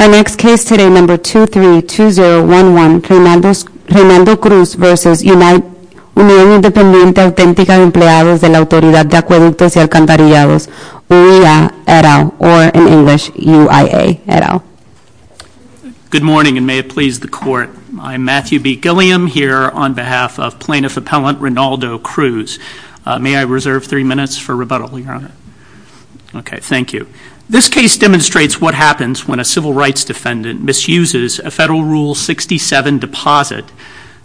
Our next case today, number 232011, Rinaldo Cruz v. United Independientes Autenticas Empleados de la Autoridad de Acueductos y Alcantarillados, UIA, et al., or in English, UIA, et al. Good morning, and may it please the Court. I'm Matthew B. Gilliam, here on behalf of Plaintiff Appellant Rinaldo Cruz. May I reserve three minutes for rebuttal, Your Honor? Okay, thank you. This case demonstrates what happens when a civil rights defendant misuses a Federal Rule 67 deposit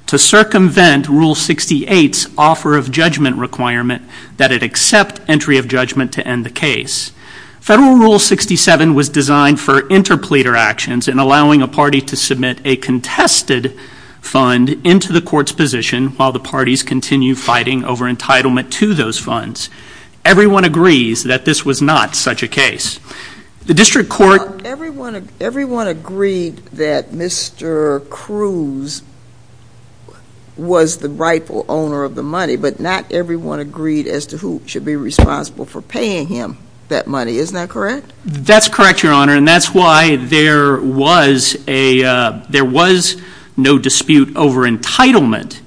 to circumvent Rule 68's offer of judgment requirement that it accept entry of judgment to end the case. Federal Rule 67 was designed for interpleader actions in allowing a party to submit a contested fund into the court's position while the parties continue fighting over entitlement to those funds. Everyone agrees that this was not such a case. The District Court Everyone agreed that Mr. Cruz was the rightful owner of the money, but not everyone agreed as to who should be responsible for paying him that money. Isn't that correct? That's correct, Your Honor, and that's why there was no dispute over entitlement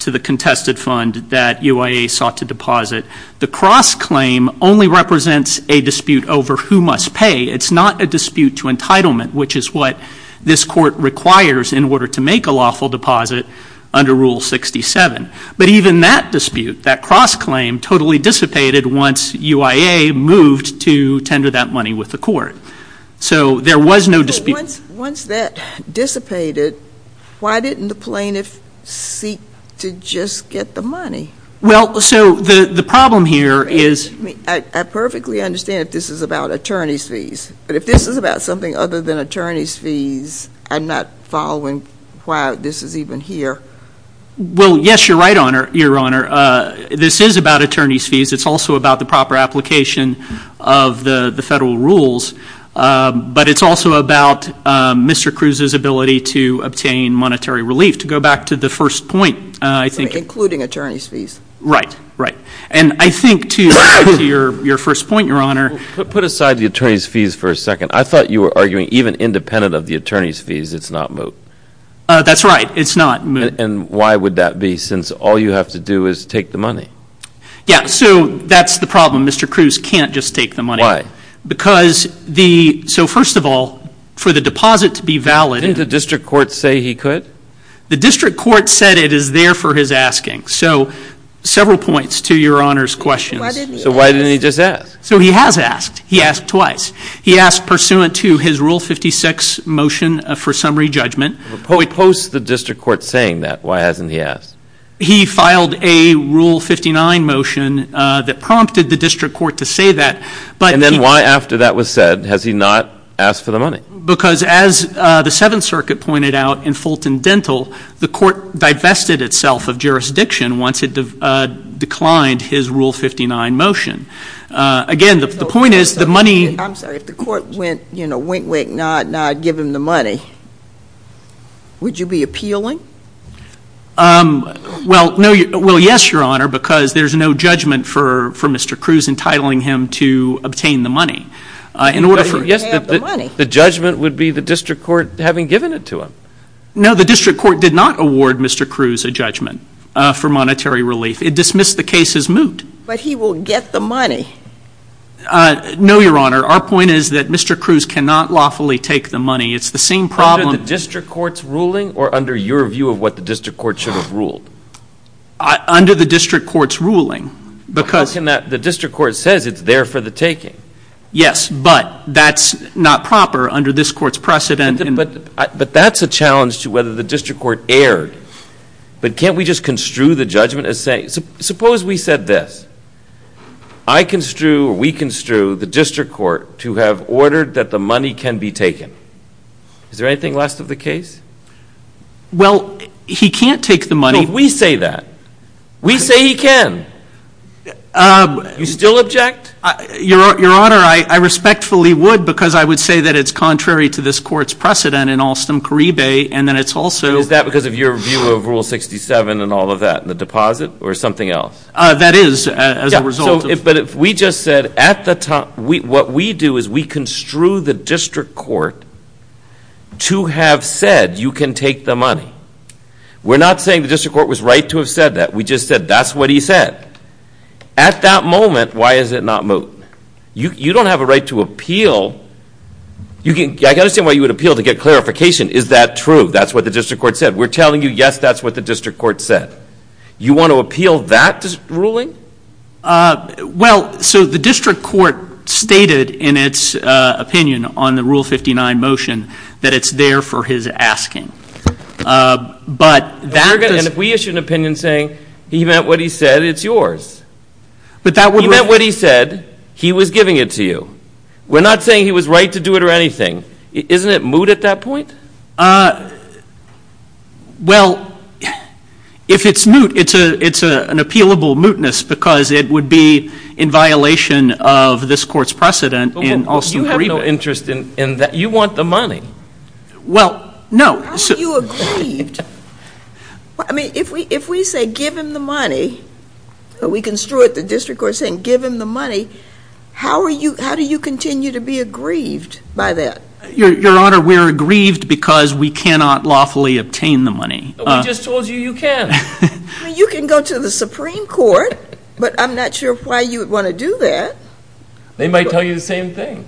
to the contested fund that UIA sought to deposit. The cross-claim only represents a dispute over who must pay. It's not a dispute to entitlement, which is what this Court requires in order to make a lawful deposit under Rule 67. But even that dispute, that cross-claim, totally dissipated once UIA moved to tender that money with the Court. So there was no dispute. But once that dissipated, why didn't the plaintiff seek to just get the money? Well, so the problem here is I perfectly understand if this is about attorney's fees, but if this is about something other than attorney's fees, I'm not following why this is even here. Well, yes, you're right, Your Honor. This is about attorney's fees. It's also about the proper application of the federal rules. But it's also about Mr. Cruz's ability to obtain monetary relief. To go back to the first point, I think Including attorney's fees Right, right. And I think to your first point, Your Honor Put aside the attorney's fees for a second. I thought you were arguing even independent of the attorney's fees, it's not moot. That's right. It's not moot. And why would that be, since all you have to do is take the money? Yeah, so that's the problem. Mr. Cruz can't just take the money. Because the, so first of all, for the deposit to be valid Didn't the district court say he could? The district court said it is there for his asking. So several points to Your Honor's questions. Why didn't he ask? So why didn't he just ask? So he has asked. He asked twice. He asked pursuant to his Rule 56 motion for summary judgment But he posts the district court saying that. Why hasn't he asked? He filed a Rule 59 motion that prompted the district court to say that, but And then why after that was said has he not asked for the money? Because as the Seventh Circuit pointed out in Fulton Dental, the court divested itself of jurisdiction once it declined his Rule 59 motion. Again, the point is the money I'm sorry, if the court went, you know, wink, wink, nod, nod, give him the money, would you be appealing? Well, no, well yes, Your Honor, because there's no judgment for Mr. Cruz entitling him to obtain the money. Yes, the judgment would be the district court having given it to him. No, the district court did not award Mr. Cruz a judgment for monetary relief. It dismissed the case as moot. But he will get the money. No, Your Honor, our point is that Mr. Cruz cannot lawfully take the money. It's the same problem Under the district court's ruling or under your view of what the district court should have ruled? Under the district court's ruling, because How can that, the district court says it's there for the taking. Yes, but that's not proper under this court's precedent But that's a challenge to whether the district court erred. But can't we just construe the judgment as saying, suppose we said this I construe or we construe the district court to have ordered that the money can be taken. Is there anything less of the case? Well, he can't take the money No, we say that. We say he can. You still object? Your Honor, I respectfully would because I would say that it's contrary to this court's precedent in Alstom Caribe and then it's also Is that because of your view of Rule 67 and all of that and the deposit or something else? That is as a result of But if we just said at the time, what we do is we construe the district court to have said you can take the money. We're not saying the district court was right to have said that. We just said that's what he said. At that moment, why is it not moving? You don't have a right to appeal. I can understand why you would appeal to get clarification. Is that true? That's what the district court said. We're telling you, yes, that's what the district court said. You want to appeal that ruling? Well, so the district court stated in its opinion on the Rule 59 motion that it's there for his asking. But that And if we issue an opinion saying he meant what he said, it's yours. But that would He meant what he said. He was giving it to you. We're not saying he was right to do it or anything. Isn't it moot at that point? Well, if it's moot, it's an appealable mootness because it would be in violation of this court's precedent. You have no interest in that. You want the money. Well, no. How are you aggrieved? I mean, if we say give him the money, we construed the district court saying give him the money. How do you continue to be aggrieved by that? Your Honor, we're aggrieved because we cannot lawfully obtain the money. We just told you you can. You can go to the Supreme Court, but I'm not sure why you would want to do that. They might tell you the same thing.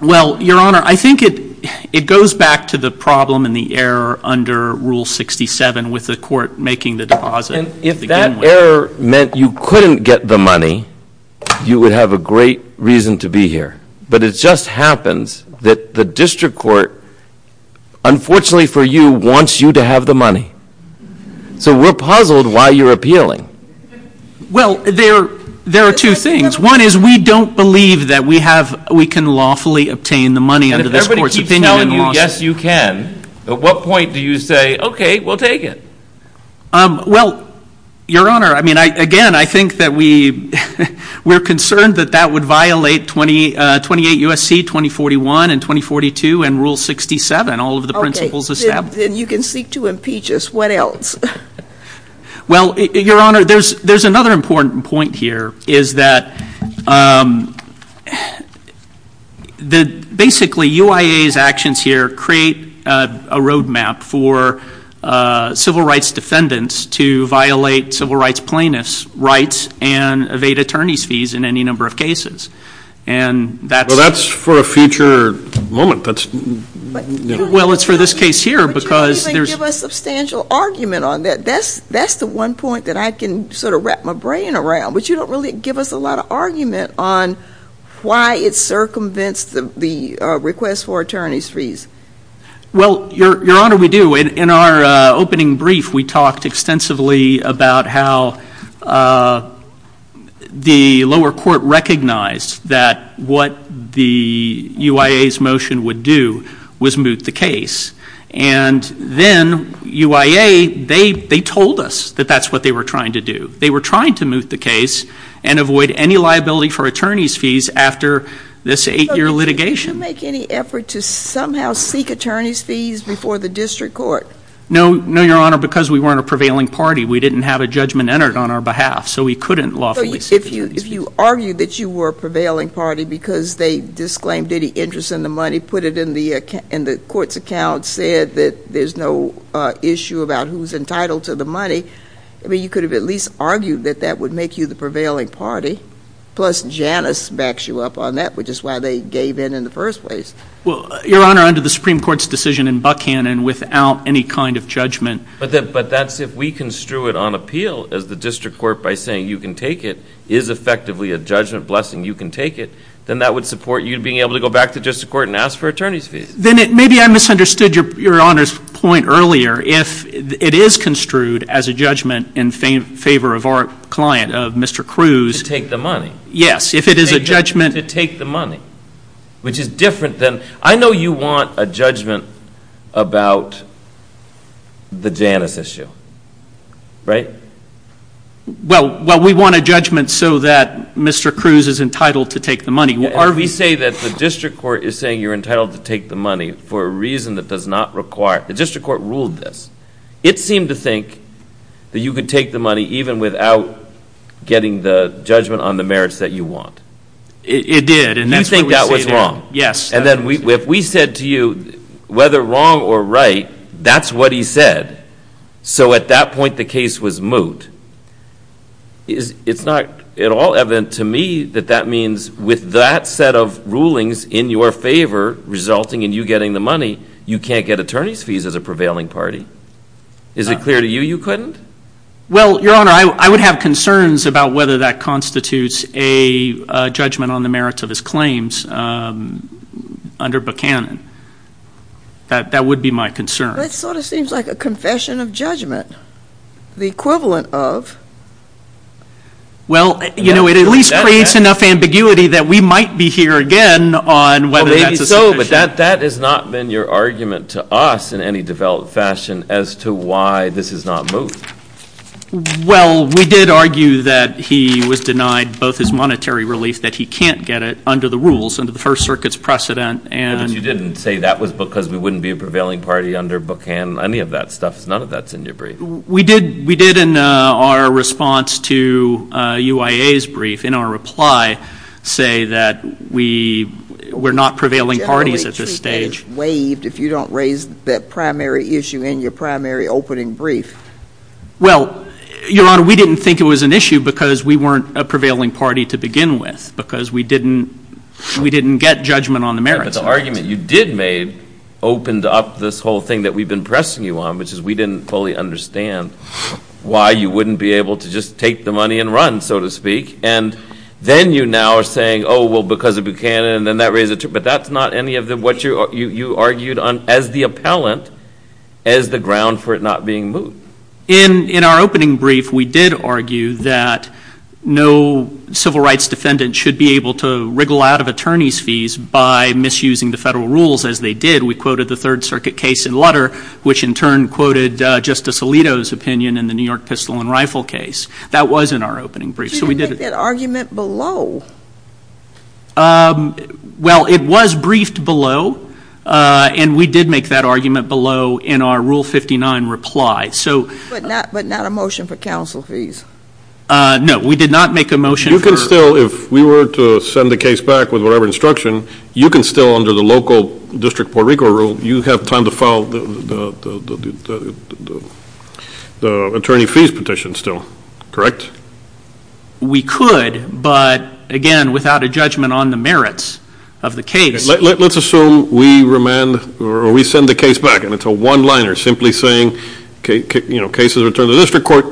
Well, Your Honor, I think it goes back to the problem and the error under Rule 67 with the court making the deposit. And if that error meant you couldn't get the money, you would have a great reason to be here. But it just happens that the district court, unfortunately for you, wants you to have the money. So we're puzzled why you're appealing. Well, there are two things. One is we don't believe that we can lawfully obtain the money under this court's opinion. And if everybody keeps telling you, yes, you can, at what point do you say, okay, we'll take it? Well, Your Honor, I mean, again, I think that we're concerned that that would violate 28 U.S.C., 2041, and 2042, and Rule 67, all of the principles established. Then you can seek to impeach us. What else? Well, Your Honor, there's another important point here is that basically UIA's actions here create a road map for civil rights defendants to violate civil rights plaintiffs' rights and evade attorney's fees in any number of cases. Well, that's for a future moment. Well, it's for this case here. But you don't even give us substantial argument on that. That's the one point that I can sort of wrap my brain around. But you don't really give us a lot of argument on why it circumvents the request for attorney's fees. Well, Your Honor, we do. In our opening brief, we talked extensively about how the lower court recognized that what the UIA's motion would do was moot the case. And then UIA, they told us that that's what they were trying to do. They were trying to moot the case and avoid any liability for attorney's fees after this eight-year litigation. Did you make any effort to somehow seek attorney's fees before the district court? No, Your Honor, because we weren't a prevailing party. We didn't have a judgment entered on our behalf. So we couldn't lawfully seek attorney's fees. If you argued that you were a prevailing party because they disclaimed any interest in the money, put it in the court's account, said that there's no issue about who's entitled to the money, I mean, you could have at least argued that that would make you the prevailing party. Plus, Janice backs you up on that, which is why they gave in in the first place. Well, Your Honor, under the Supreme Court's decision in Buckhannon, without any kind of judgment. But that's if we construe it on appeal as the district court by saying you can take it, is effectively a judgment blessing, you can take it, then that would support you being able to go back to district court and ask for attorney's fees. Then maybe I misunderstood Your Honor's point earlier. If it is construed as a judgment in favor of our client, Mr. Cruz. To take the money. Yes, if it is a judgment. Which is different than, I know you want a judgment about the Janice issue, right? Well, we want a judgment so that Mr. Cruz is entitled to take the money. Or we say that the district court is saying you're entitled to take the money for a reason that does not require, the district court ruled this. It seemed to think that you could take the money even without getting the judgment on the merits that you want. It did. You think that was wrong. Yes. And then if we said to you whether wrong or right, that's what he said. So at that point the case was moot. It's not at all evident to me that that means with that set of rulings in your favor resulting in you getting the money, you can't get attorney's fees as a prevailing party. Is it clear to you you couldn't? Well, Your Honor, I would have concerns about whether that constitutes a judgment on the merits of his claims under Buchanan. That would be my concern. That sort of seems like a confession of judgment. The equivalent of. Well, you know, it at least creates enough ambiguity that we might be here again on whether that's a suggestion. No, but that has not been your argument to us in any developed fashion as to why this is not moot. Well, we did argue that he was denied both his monetary relief, that he can't get it under the rules, under the First Circuit's precedent. But you didn't say that was because we wouldn't be a prevailing party under Buchanan, any of that stuff. None of that's in your brief. We did in our response to UIA's brief, in our reply, say that we're not prevailing parties at this stage. Generally, treatment is waived if you don't raise that primary issue in your primary opening brief. Well, Your Honor, we didn't think it was an issue because we weren't a prevailing party to begin with, because we didn't get judgment on the merits. But the argument you did make opened up this whole thing that we've been pressing you on, which is we didn't fully understand why you wouldn't be able to just take the money and run, so to speak. And then you now are saying, oh, well, because of Buchanan, and then that raises it. But that's not any of what you argued on as the appellant as the ground for it not being moot. In our opening brief, we did argue that no civil rights defendant should be able to wriggle out of attorney's fees by misusing the federal rules as they did. We quoted the Third Circuit case in Lutter, which in turn quoted Justice Alito's opinion in the New York pistol and rifle case. That was in our opening brief, so we did it. You didn't make that argument below. Well, it was briefed below, and we did make that argument below in our Rule 59 reply. But not a motion for counsel fees. No, we did not make a motion. You can still, if we were to send the case back with whatever instruction, you can still under the local district Puerto Rico rule, you have time to file the attorney fees petition still, correct? We could, but, again, without a judgment on the merits of the case. Let's assume we remand or we send the case back and it's a one-liner simply saying, you know, case is returned to the district court,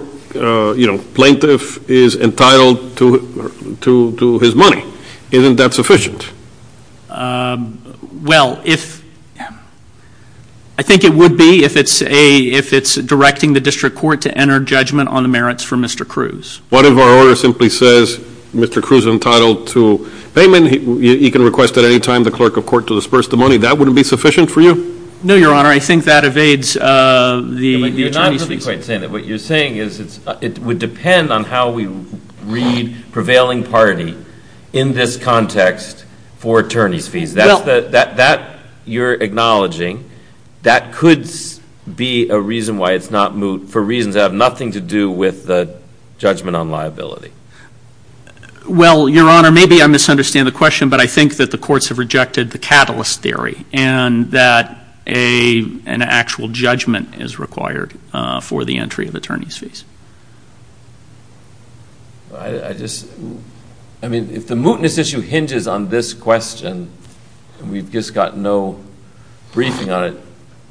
you know, plaintiff is entitled to his money. Isn't that sufficient? Well, I think it would be if it's directing the district court to enter judgment on the merits for Mr. Cruz. What if our order simply says Mr. Cruz is entitled to payment? Again, you can request at any time the clerk of court to disperse the money. That wouldn't be sufficient for you? No, Your Honor, I think that evades the attorney's fees. You're not really quite saying that. What you're saying is it would depend on how we read prevailing party in this context for attorney's fees. That you're acknowledging, that could be a reason why it's not moot for reasons that have nothing to do with the judgment on liability. Well, Your Honor, maybe I misunderstand the question, but I think that the courts have rejected the catalyst theory and that an actual judgment is required for the entry of attorney's fees. I just, I mean, if the mootness issue hinges on this question and we've just got no briefing on it,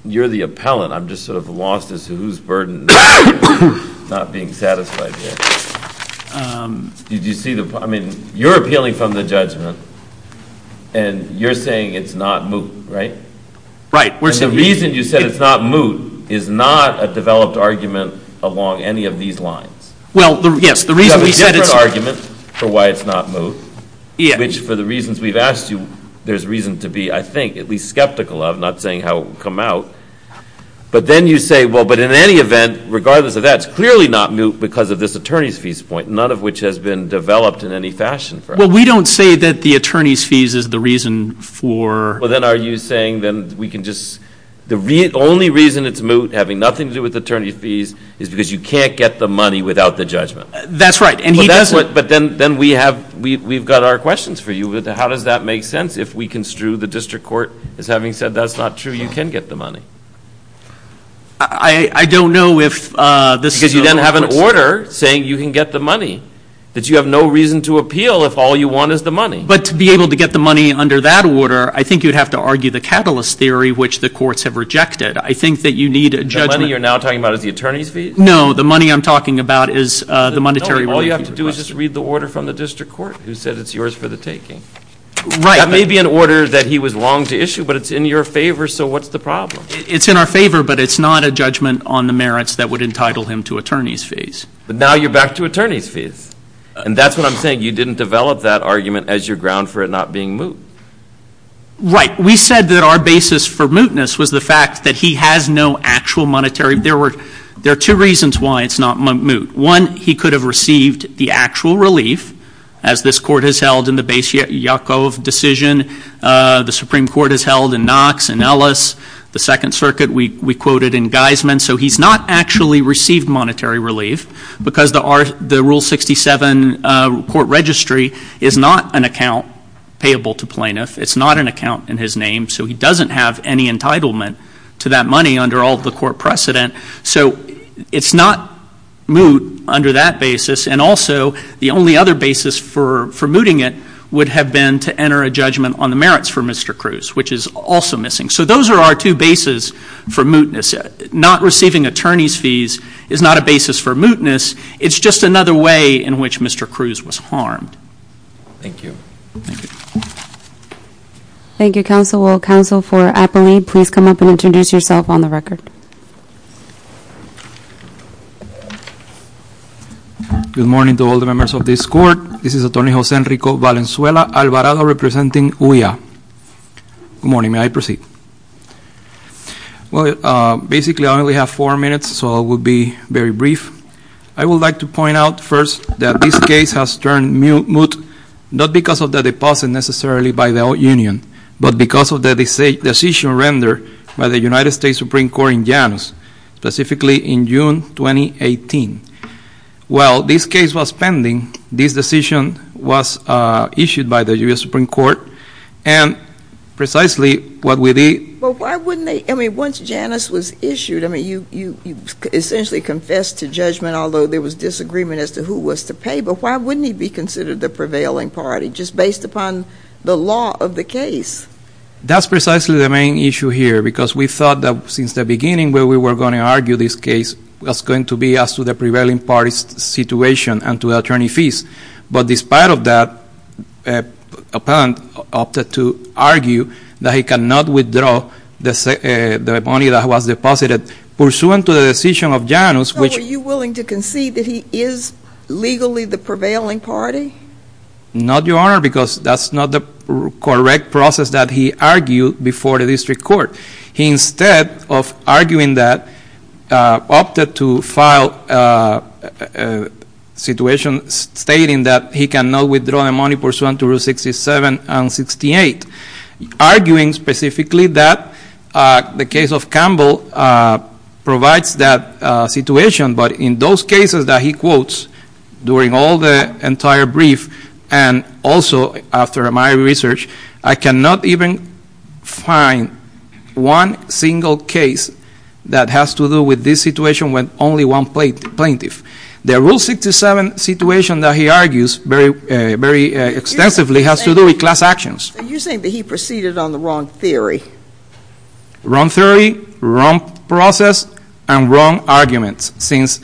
you're the appellant. I'm just sort of lost as to whose burden is not being satisfied here. Did you see the, I mean, you're appealing from the judgment and you're saying it's not moot, right? Right. The reason you said it's not moot is not a developed argument along any of these lines. Well, yes, the reason we said it's moot. You have a different argument for why it's not moot, which for the reasons we've asked you, there's reason to be, I think, at least skeptical of, not saying how it will come out. But then you say, well, but in any event, regardless of that, it's clearly not moot because of this attorney's fees point, none of which has been developed in any fashion for us. Well, we don't say that the attorney's fees is the reason for... Well, then are you saying then we can just, the only reason it's moot, having nothing to do with attorney's fees, is because you can't get the money without the judgment? That's right, and he doesn't. But then we have, we've got our questions for you. How does that make sense if we construe the district court as having said that's not true, you can get the money? I don't know if this is... Because you then have an order saying you can get the money, that you have no reason to appeal if all you want is the money. But to be able to get the money under that order, I think you'd have to argue the catalyst theory, which the courts have rejected. I think that you need a judgment. The money you're now talking about is the attorney's fees? No, the money I'm talking about is the monetary... All you have to do is just read the order from the district court, who said it's yours for the taking. Right. That may be an order that he was long to issue, but it's in your favor, so what's the problem? It's in our favor, but it's not a judgment on the merits that would entitle him to attorney's fees. But now you're back to attorney's fees. And that's what I'm saying. You didn't develop that argument as your ground for it not being moot. Right. We said that our basis for mootness was the fact that he has no actual monetary... There are two reasons why it's not moot. One, he could have received the actual relief, as this court has held in the Basia-Yakov decision. The Supreme Court has held in Knox and Ellis. The Second Circuit we quoted in Geisman. So he's not actually received monetary relief because the Rule 67 court registry is not an account payable to plaintiffs. It's not an account in his name, so he doesn't have any entitlement to that money under all the court precedent. So it's not moot under that basis. And also, the only other basis for mooting it would have been to enter a judgment on the merits for Mr. Cruz, which is also missing. So those are our two bases for mootness. Not receiving attorney's fees is not a basis for mootness. It's just another way in which Mr. Cruz was harmed. Thank you. Thank you, counsel. Well, counsel for Apoly, please come up and introduce yourself on the record. Good morning to all the members of this court. This is Attorney Jose Enrico Valenzuela Alvarado representing OIA. Good morning. May I proceed? Well, basically I only have four minutes, so I will be very brief. I would like to point out first that this case has turned moot not because of the deposit necessarily by the OAT Union, but because of the decision rendered by the United States Supreme Court in Janus, specifically in June 2018. Well, this case was pending. This decision was issued by the U.S. Supreme Court, and precisely what we did Well, why wouldn't they? I mean, once Janus was issued, I mean, you essentially confessed to judgment, although there was disagreement as to who was to pay. But why wouldn't he be considered the prevailing party just based upon the law of the case? That's precisely the main issue here, because we thought that since the beginning where we were going to argue this case, it was going to be as to the prevailing party's situation and to attorney fees. But despite of that, a parent opted to argue that he cannot withdraw the money that was deposited pursuant to the decision of Janus, which So are you willing to concede that he is legally the prevailing party? Not, Your Honor, because that's not the correct process that he argued before the district court. Instead of arguing that, opted to file a situation stating that he cannot withdraw the money pursuant to Rule 67 and 68, arguing specifically that the case of Campbell provides that situation. But in those cases that he quotes during all the entire brief, and also after my research, I cannot even find one single case that has to do with this situation with only one plaintiff. The Rule 67 situation that he argues very extensively has to do with class actions. Are you saying that he proceeded on the wrong theory? Wrong theory, wrong process, and wrong arguments, since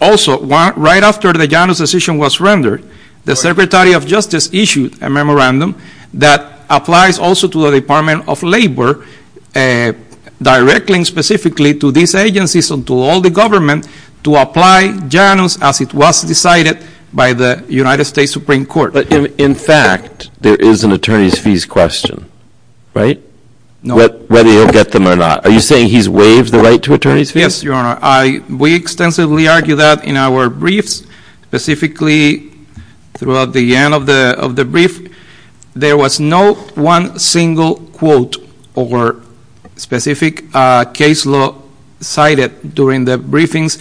also right after the Janus decision was rendered, the Secretary of Justice issued a memorandum that applies also to the Department of Labor, directing specifically to these agencies and to all the government to apply Janus as it was decided by the United States Supreme Court. But in fact, there is an attorney's fees question, right? No. Whether he'll get them or not. Are you saying he's waived the right to attorney's fees? Yes, Your Honor. We extensively argue that in our briefs, specifically throughout the end of the brief, there was no one single quote or specific case law cited during the briefings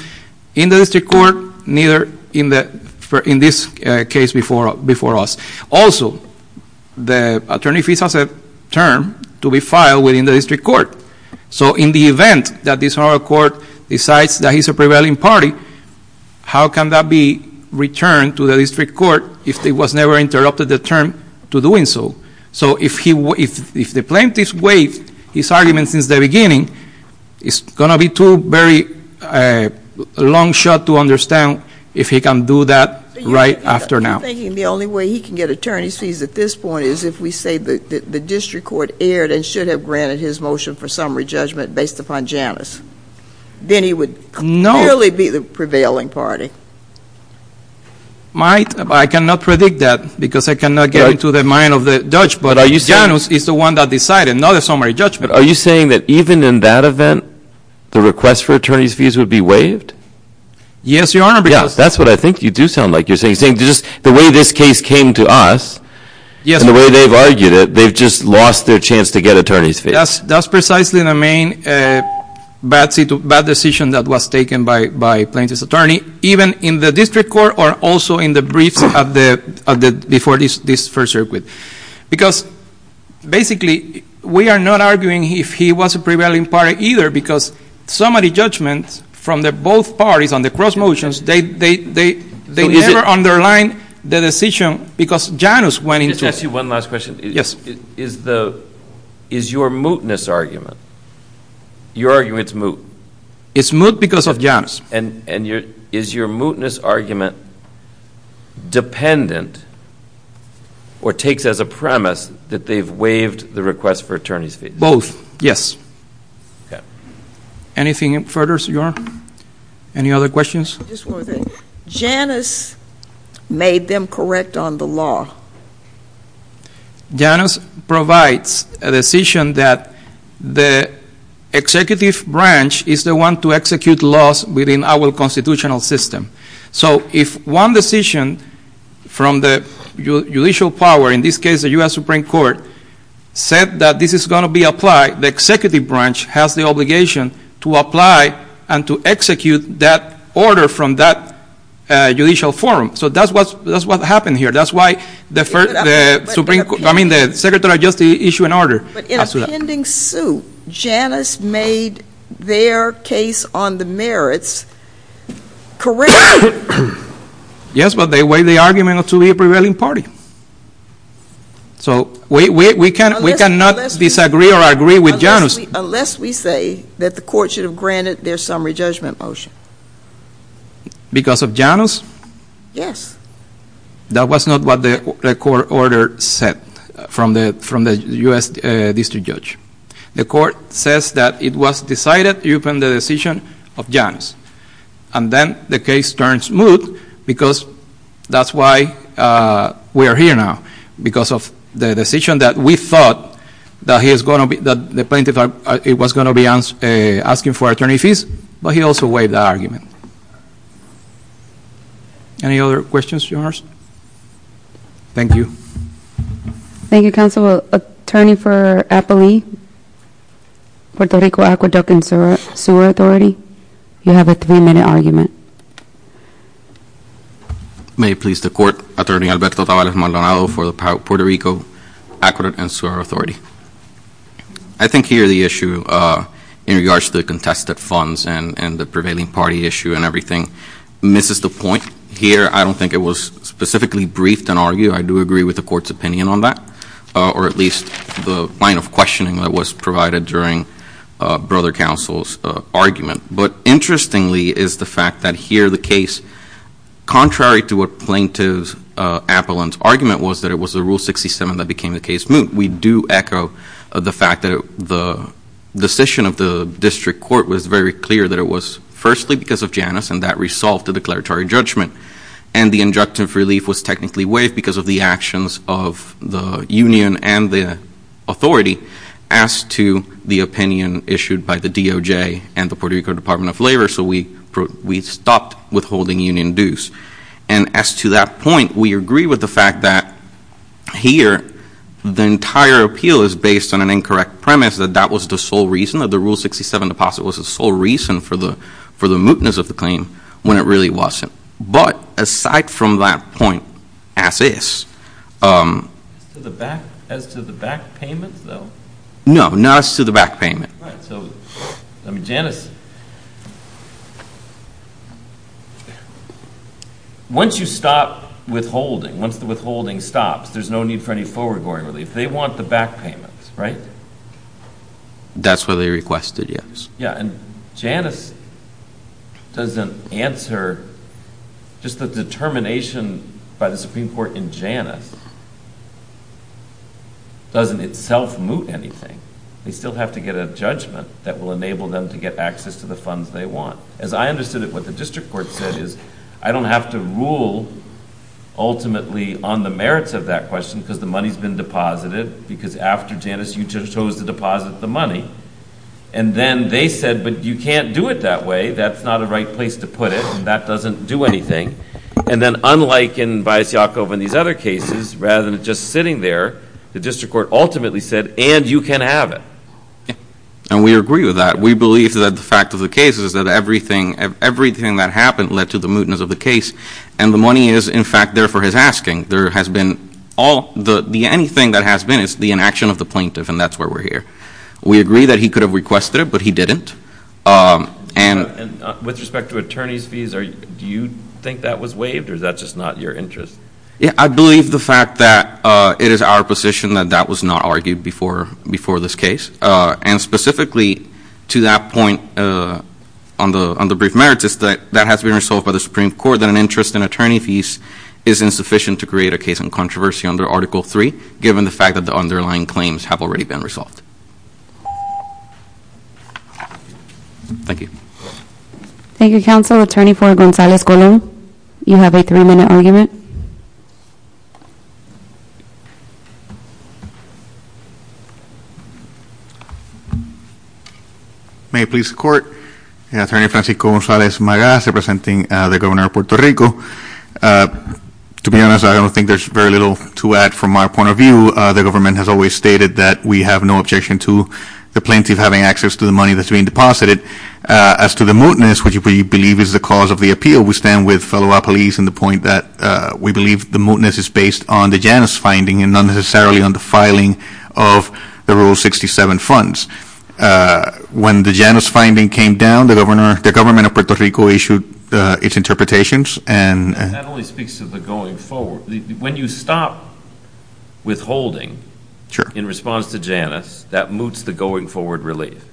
in the district court, neither in this case before us. Also, the attorney's fees are a term to be filed within the district court. So in the event that this court decides that he's a prevailing party, how can that be returned to the district court if it was never interrupted the term to do so? So if the plaintiff waived his argument since the beginning, it's going to be too very long shot to understand if he can do that right after now. You're thinking the only way he can get attorney's fees at this point is if we say the district court erred and should have granted his motion for summary judgment based upon Janus. Then he would clearly be the prevailing party. I cannot predict that because I cannot get into the mind of the judge, but Janus is the one that decided, not a summary judgment. Are you saying that even in that event, the request for attorney's fees would be waived? Yes, Your Honor. That's what I think you do sound like. You're saying the way this case came to us and the way they've argued it, they've just lost their chance to get attorney's fees. That's precisely the main bad decision that was taken by Plaintiff's attorney, even in the district court or also in the briefs before this first circuit. Because basically we are not arguing if he was a prevailing party either because summary judgments from both parties on the cross motions, they never underline the decision because Janus went into it. Let me ask you one last question. Yes. Is your mootness argument, you're arguing it's moot? It's moot because of Janus. Is your mootness argument dependent or takes as a premise that they've waived the request for attorney's fees? Both, yes. Anything further, Your Honor? Any other questions? Just one thing. Janus made them correct on the law. Janus provides a decision that the executive branch is the one to execute laws within our constitutional system. So if one decision from the judicial power, in this case the U.S. Supreme Court, said that this is going to be applied, the executive branch has the obligation to apply and to execute that order from that judicial forum. So that's what happened here. That's why the Secretary of Justice issued an order. But in a pending suit, Janus made their case on the merits correct. Yes, but they waived the argument to be a prevailing party. So we cannot disagree or agree with Janus. Unless we say that the court should have granted their summary judgment motion. Because of Janus? Yes. That was not what the court order said from the U.S. district judge. The court says that it was decided upon the decision of Janus. And then the case turned smooth because that's why we are here now. Because of the decision that we thought that the plaintiff was going to be asking for attorney's fees, but he also waived the argument. Any other questions, Janus? Thank you. Thank you, counsel. Attorney for Appalee, Puerto Rico Aqueduct and Sewer Authority, you have a three-minute argument. May it please the Court, Attorney Alberto Tavares-Maldonado for the Puerto Rico Aqueduct and Sewer Authority. I think here the issue in regards to the contested funds and the prevailing party issue and everything misses the point. Here I don't think it was specifically briefed and argued. I do agree with the Court's opinion on that, or at least the line of questioning that was provided during Brother Counsel's argument. But interestingly is the fact that here the case, contrary to what Plaintiff Appaline's argument was, that it was the Rule 67 that became the case. We do echo the fact that the decision of the district court was very clear that it was firstly because of Janus, and that resolved the declaratory judgment. And the injunctive relief was technically waived because of the actions of the union and the authority as to the opinion issued by the DOJ and the Puerto Rico Department of Labor. So we stopped withholding union dues. And as to that point, we agree with the fact that here the entire appeal is based on an incorrect premise that that was the sole reason that the Rule 67 deposit was the sole reason for the mootness of the claim when it really wasn't. But aside from that point as is. As to the back payments, though? No, not as to the back payment. Right. So, I mean, Janus. Once you stop withholding, once the withholding stops, there's no need for any forward-going relief. They want the back payments, right? That's what they requested, yes. Yeah, and Janus doesn't answer. Just the determination by the Supreme Court in Janus doesn't itself moot anything. They still have to get a judgment that will enable them to get access to the funds they want. As I understood it, what the district court said is, I don't have to rule ultimately on the merits of that question because the money's been deposited because after Janus you chose to deposit the money. And then they said, but you can't do it that way. That's not a right place to put it. That doesn't do anything. And then unlike in Valles-Llaco and these other cases, rather than just sitting there, the district court ultimately said, and you can have it. And we agree with that. We believe that the fact of the case is that everything that happened led to the mootness of the case, and the money is, in fact, there for his asking. There has been all the anything that has been is the inaction of the plaintiff, and that's why we're here. We agree that he could have requested it, but he didn't. And with respect to attorney's fees, do you think that was waived, or is that just not your interest? Yeah, I believe the fact that it is our position that that was not argued before this case, and specifically to that point on the brief merits is that that has been resolved by the Supreme Court, that an interest in attorney fees is insufficient to create a case in controversy under Article III, given the fact that the underlying claims have already been resolved. Thank you. Thank you, Counsel. Attorney for Gonzalez-Colón, you have a three-minute argument. May it please the Court? Attorney Francisco Gonzalez-Magas, representing the governor of Puerto Rico. To be honest, I don't think there's very little to add from my point of view. The government has always stated that we have no objection to the plaintiff having access to the money that's being deposited. As to the mootness, which we believe is the cause of the appeal, we stand with fellow appellees in the point that we believe the mootness is based on the Janus finding and not necessarily on the filing of the Rule 67 funds. When the Janus finding came down, the government of Puerto Rico issued its interpretations. That only speaks to the going forward. When you stop withholding in response to Janus, that moots the going forward relief.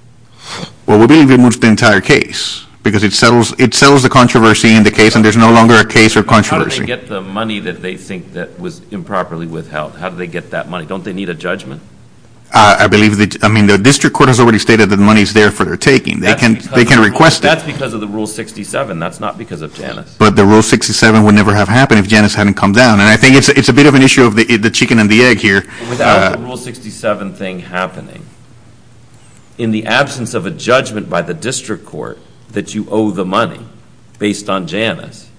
Well, we believe it moots the entire case because it settles the controversy in the case and there's no longer a case or controversy. How do they get the money that they think was improperly withheld? How do they get that money? Don't they need a judgment? I believe the district court has already stated that the money is there for their taking. They can request it. That's because of the Rule 67. That's not because of Janus. But the Rule 67 would never have happened if Janus hadn't come down. And I think it's a bit of an issue of the chicken and the egg here. Without the Rule 67 thing happening, in the absence of a judgment by the district court that you owe the money based on Janus,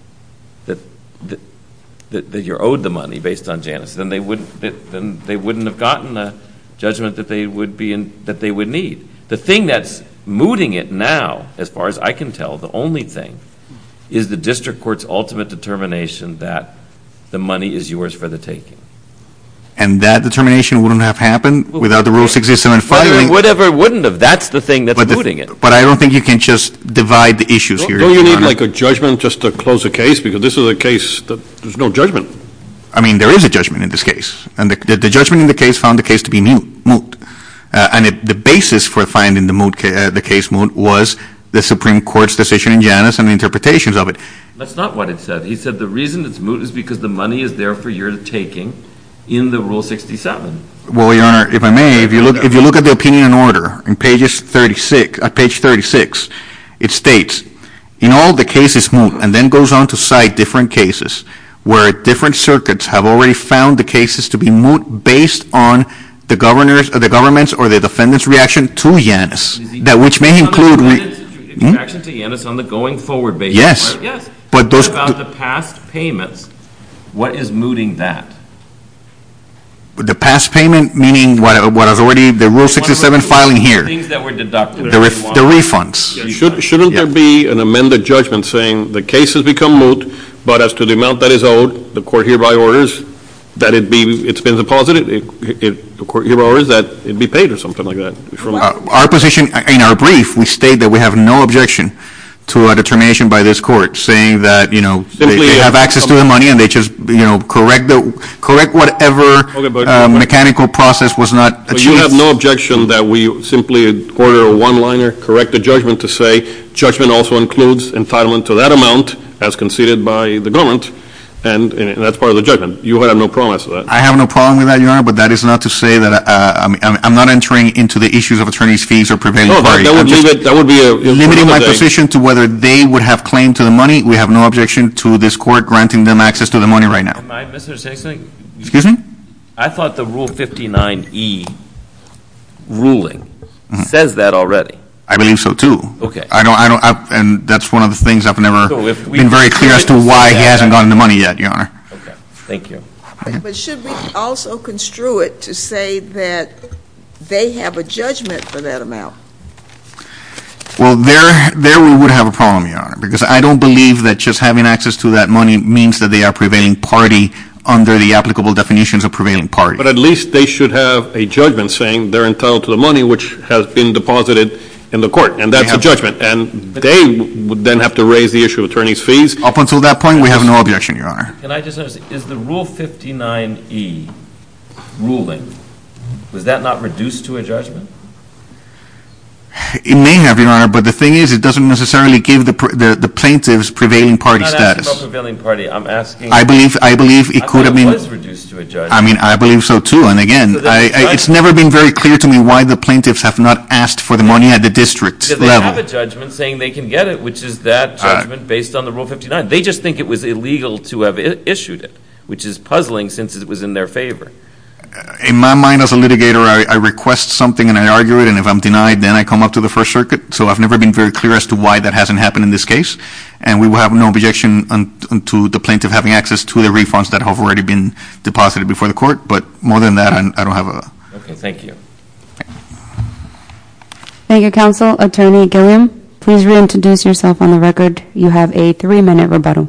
that you're owed the money based on Janus, then they wouldn't have gotten the judgment that they would need. The thing that's mooting it now, as far as I can tell, the only thing is the district court's ultimate determination that the money is yours for the taking. And that determination wouldn't have happened without the Rule 67 filing? Whatever wouldn't have. That's the thing that's mooting it. But I don't think you can just divide the issues here. Don't you need, like, a judgment just to close a case? Because this is a case that there's no judgment. I mean, there is a judgment in this case. And the judgment in the case found the case to be moot. And the basis for finding the case moot was the Supreme Court's decision in Janus and interpretations of it. That's not what it said. He said the reason it's moot is because the money is there for your taking in the Rule 67. Well, Your Honor, if I may, if you look at the opinion and order on page 36, it states, in all the cases moot, and then goes on to cite different cases where different circuits have already found the cases to be moot based on the government's or the defendant's reaction to Janus. Which may include... Reaction to Janus on the going forward basis. Yes. But those... What about the past payments? What is mooting that? The past payment meaning what has already, the Rule 67 filing here. Things that were deducted. The refunds. Shouldn't there be an amended judgment saying the case has become moot, but as to the amount that is owed, the court hereby orders that it be, it's been deposited, the court hereby orders that it be paid or something like that. Our position, in our brief, we state that we have no objection to a determination by this court saying that, you know, they have access to the money and they just, you know, correct whatever mechanical process was not achieved. But you have no objection that we simply order a one-liner, correct the judgment to say, judgment also includes entitlement to that amount as conceded by the government, and that's part of the judgment. You have no promise of that. I have no problem with that, Your Honor, but that is not to say that, I'm not entering into the issues of attorney's fees or prevailing parties. No, that would be a... Limiting my position to whether they would have claim to the money. We have no objection to this court granting them access to the money right now. Am I, Mr. Sessing? Excuse me? I thought the Rule 59E ruling says that already. I believe so, too. Okay. I don't, and that's one of the things I've never been very clear as to why he hasn't gotten the money yet, Your Honor. Okay. Thank you. But should we also construe it to say that they have a judgment for that amount? Well, there we would have a problem, Your Honor, because I don't believe that just having access to that money means that they are prevailing party under the applicable definitions of prevailing party. But at least they should have a judgment saying they're entitled to the money which has been deposited in the court, and that's a judgment, and they would then have to raise the issue of attorney's fees. Up until that point, we have no objection, Your Honor. Can I just ask, is the Rule 59E ruling, was that not reduced to a judgment? It may have, Your Honor, but the thing is it doesn't necessarily give the plaintiffs prevailing party status. I'm not asking about prevailing party. I'm asking. I believe it could have been. I thought it was reduced to a judgment. I mean, I believe so, too. And, again, it's never been very clear to me why the plaintiffs have not asked for the money at the district level. Because they have a judgment saying they can get it, which is that judgment based on the Rule 59. They just think it was illegal to have issued it, which is puzzling since it was in their favor. In my mind as a litigator, I request something and I argue it, and if I'm denied, then I come up to the First Circuit. So I've never been very clear as to why that hasn't happened in this case. And we will have no objection to the plaintiff having access to the refunds that have already been deposited before the court. But more than that, I don't have a – Okay. Thank you. Thank you, Counsel. Attorney Gilliam, please reintroduce yourself on the record. You have a three-minute rebuttal.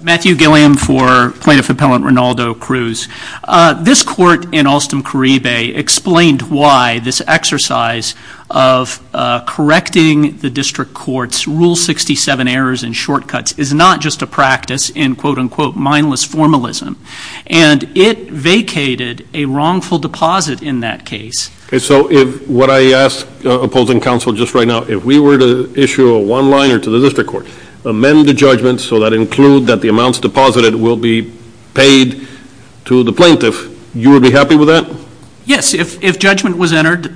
Matthew Gilliam for Plaintiff Appellant Rinaldo Cruz. This court in Alstom-Caribbe explained why this exercise of correcting the district court's Rule 67 errors and shortcuts is not just a practice in, quote, unquote, mindless formalism. And it vacated a wrongful deposit in that case. Okay. So if what I asked opposing counsel just right now, if we were to issue a one-liner to the district court, amend the judgment so that includes that the amounts deposited will be paid to the plaintiff, you would be happy with that? Yes. If judgment was entered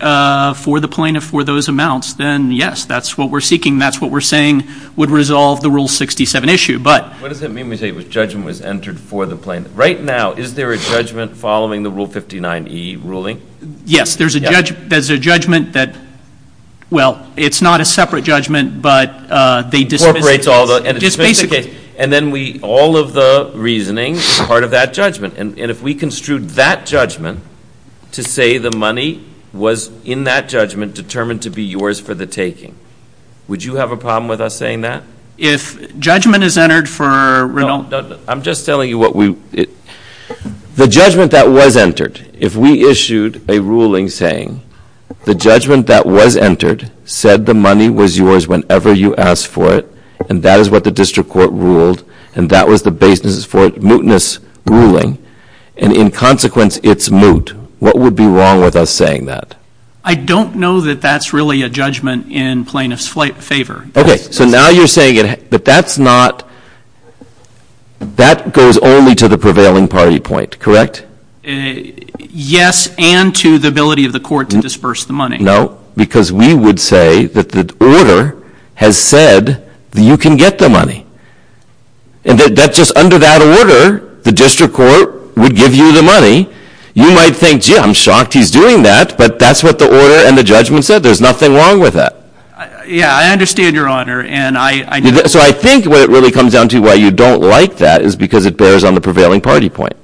for the plaintiff for those amounts, then yes, that's what we're seeking. That's what we're saying would resolve the Rule 67 issue. But – What does it mean when you say judgment was entered for the plaintiff? Right now, is there a judgment following the Rule 59e ruling? Yes. There's a judgment that, well, it's not a separate judgment, but they dismiss it. And then we – all of the reasoning is part of that judgment. And if we construed that judgment to say the money was in that judgment determined to be yours for the taking, would you have a problem with us saying that? If judgment is entered for Rinaldo – I'm just telling you what we – the judgment that was entered, if we issued a ruling saying the judgment that was entered said the money was yours whenever you asked for it, and that is what the district court ruled, and that was the basis for a mootness ruling, and in consequence it's moot, what would be wrong with us saying that? I don't know that that's really a judgment in plaintiff's favor. Okay. So now you're saying it – but that's not – that goes only to the prevailing party point, correct? Yes, and to the ability of the court to disperse the money. No, because we would say that the order has said that you can get the money. And that just under that order, the district court would give you the money. You might think, gee, I'm shocked he's doing that, but that's what the order and the judgment said. There's nothing wrong with that. Yeah, I understand, Your Honor, and I – So I think what it really comes down to why you don't like that is because it bears on the prevailing party point.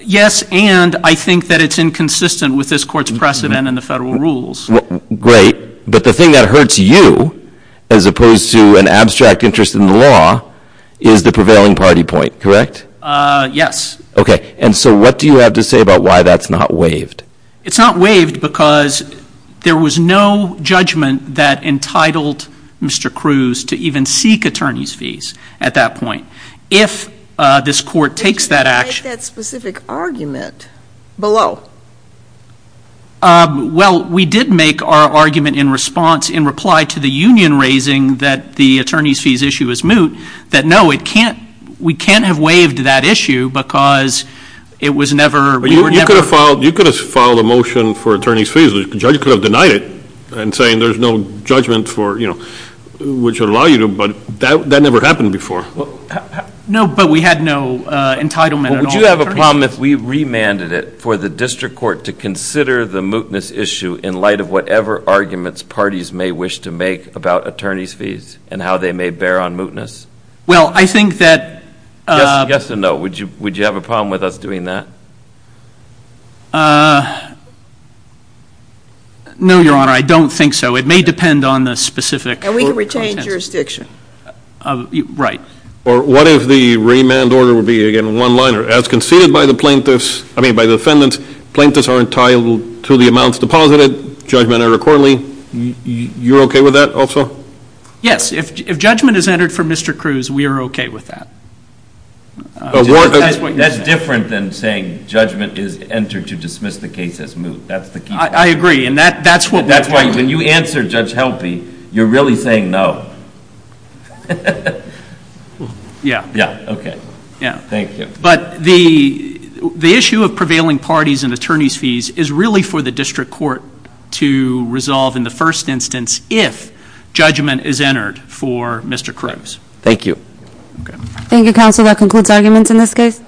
Yes, and I think that it's inconsistent with this court's precedent in the federal rules. Great. But the thing that hurts you, as opposed to an abstract interest in the law, is the prevailing party point, correct? Yes. Okay. And so what do you have to say about why that's not waived? It's not waived because there was no judgment that entitled Mr. Cruz to even seek attorney's fees at that point. If this court takes that action – But you didn't make that specific argument below. Well, we did make our argument in response, in reply to the union raising that the attorney's fees issue is moot, that no, it can't – we can't have waived that issue because it was never – You could have filed a motion for attorney's fees. The judge could have denied it and saying there's no judgment for, you know, which would allow you to, but that never happened before. No, but we had no entitlement at all. Would you have a problem if we remanded it for the district court to consider the mootness issue in light of whatever arguments parties may wish to make about attorney's fees and how they may bear on mootness? Well, I think that – Yes and no. Would you have a problem with us doing that? No, Your Honor. I don't think so. It may depend on the specific – And we can retain jurisdiction. Right. Or what if the remand order would be, again, one-liner, as conceded by the plaintiffs – I mean by the defendants, plaintiffs are entitled to the amounts deposited, judgment are accordingly. You're okay with that also? Yes. If judgment is entered for Mr. Cruz, we are okay with that. That's different than saying judgment is entered to dismiss the case as moot. That's the key point. I agree, and that's what we're trying to do. When you answer, Judge Helpe, you're really saying no. Yeah. Yeah, okay. Yeah. Thank you. But the issue of prevailing parties and attorney's fees is really for the district court to resolve in the first instance if judgment is entered for Mr. Cruz. Thank you. Thank you, counsel. That concludes arguments in this case.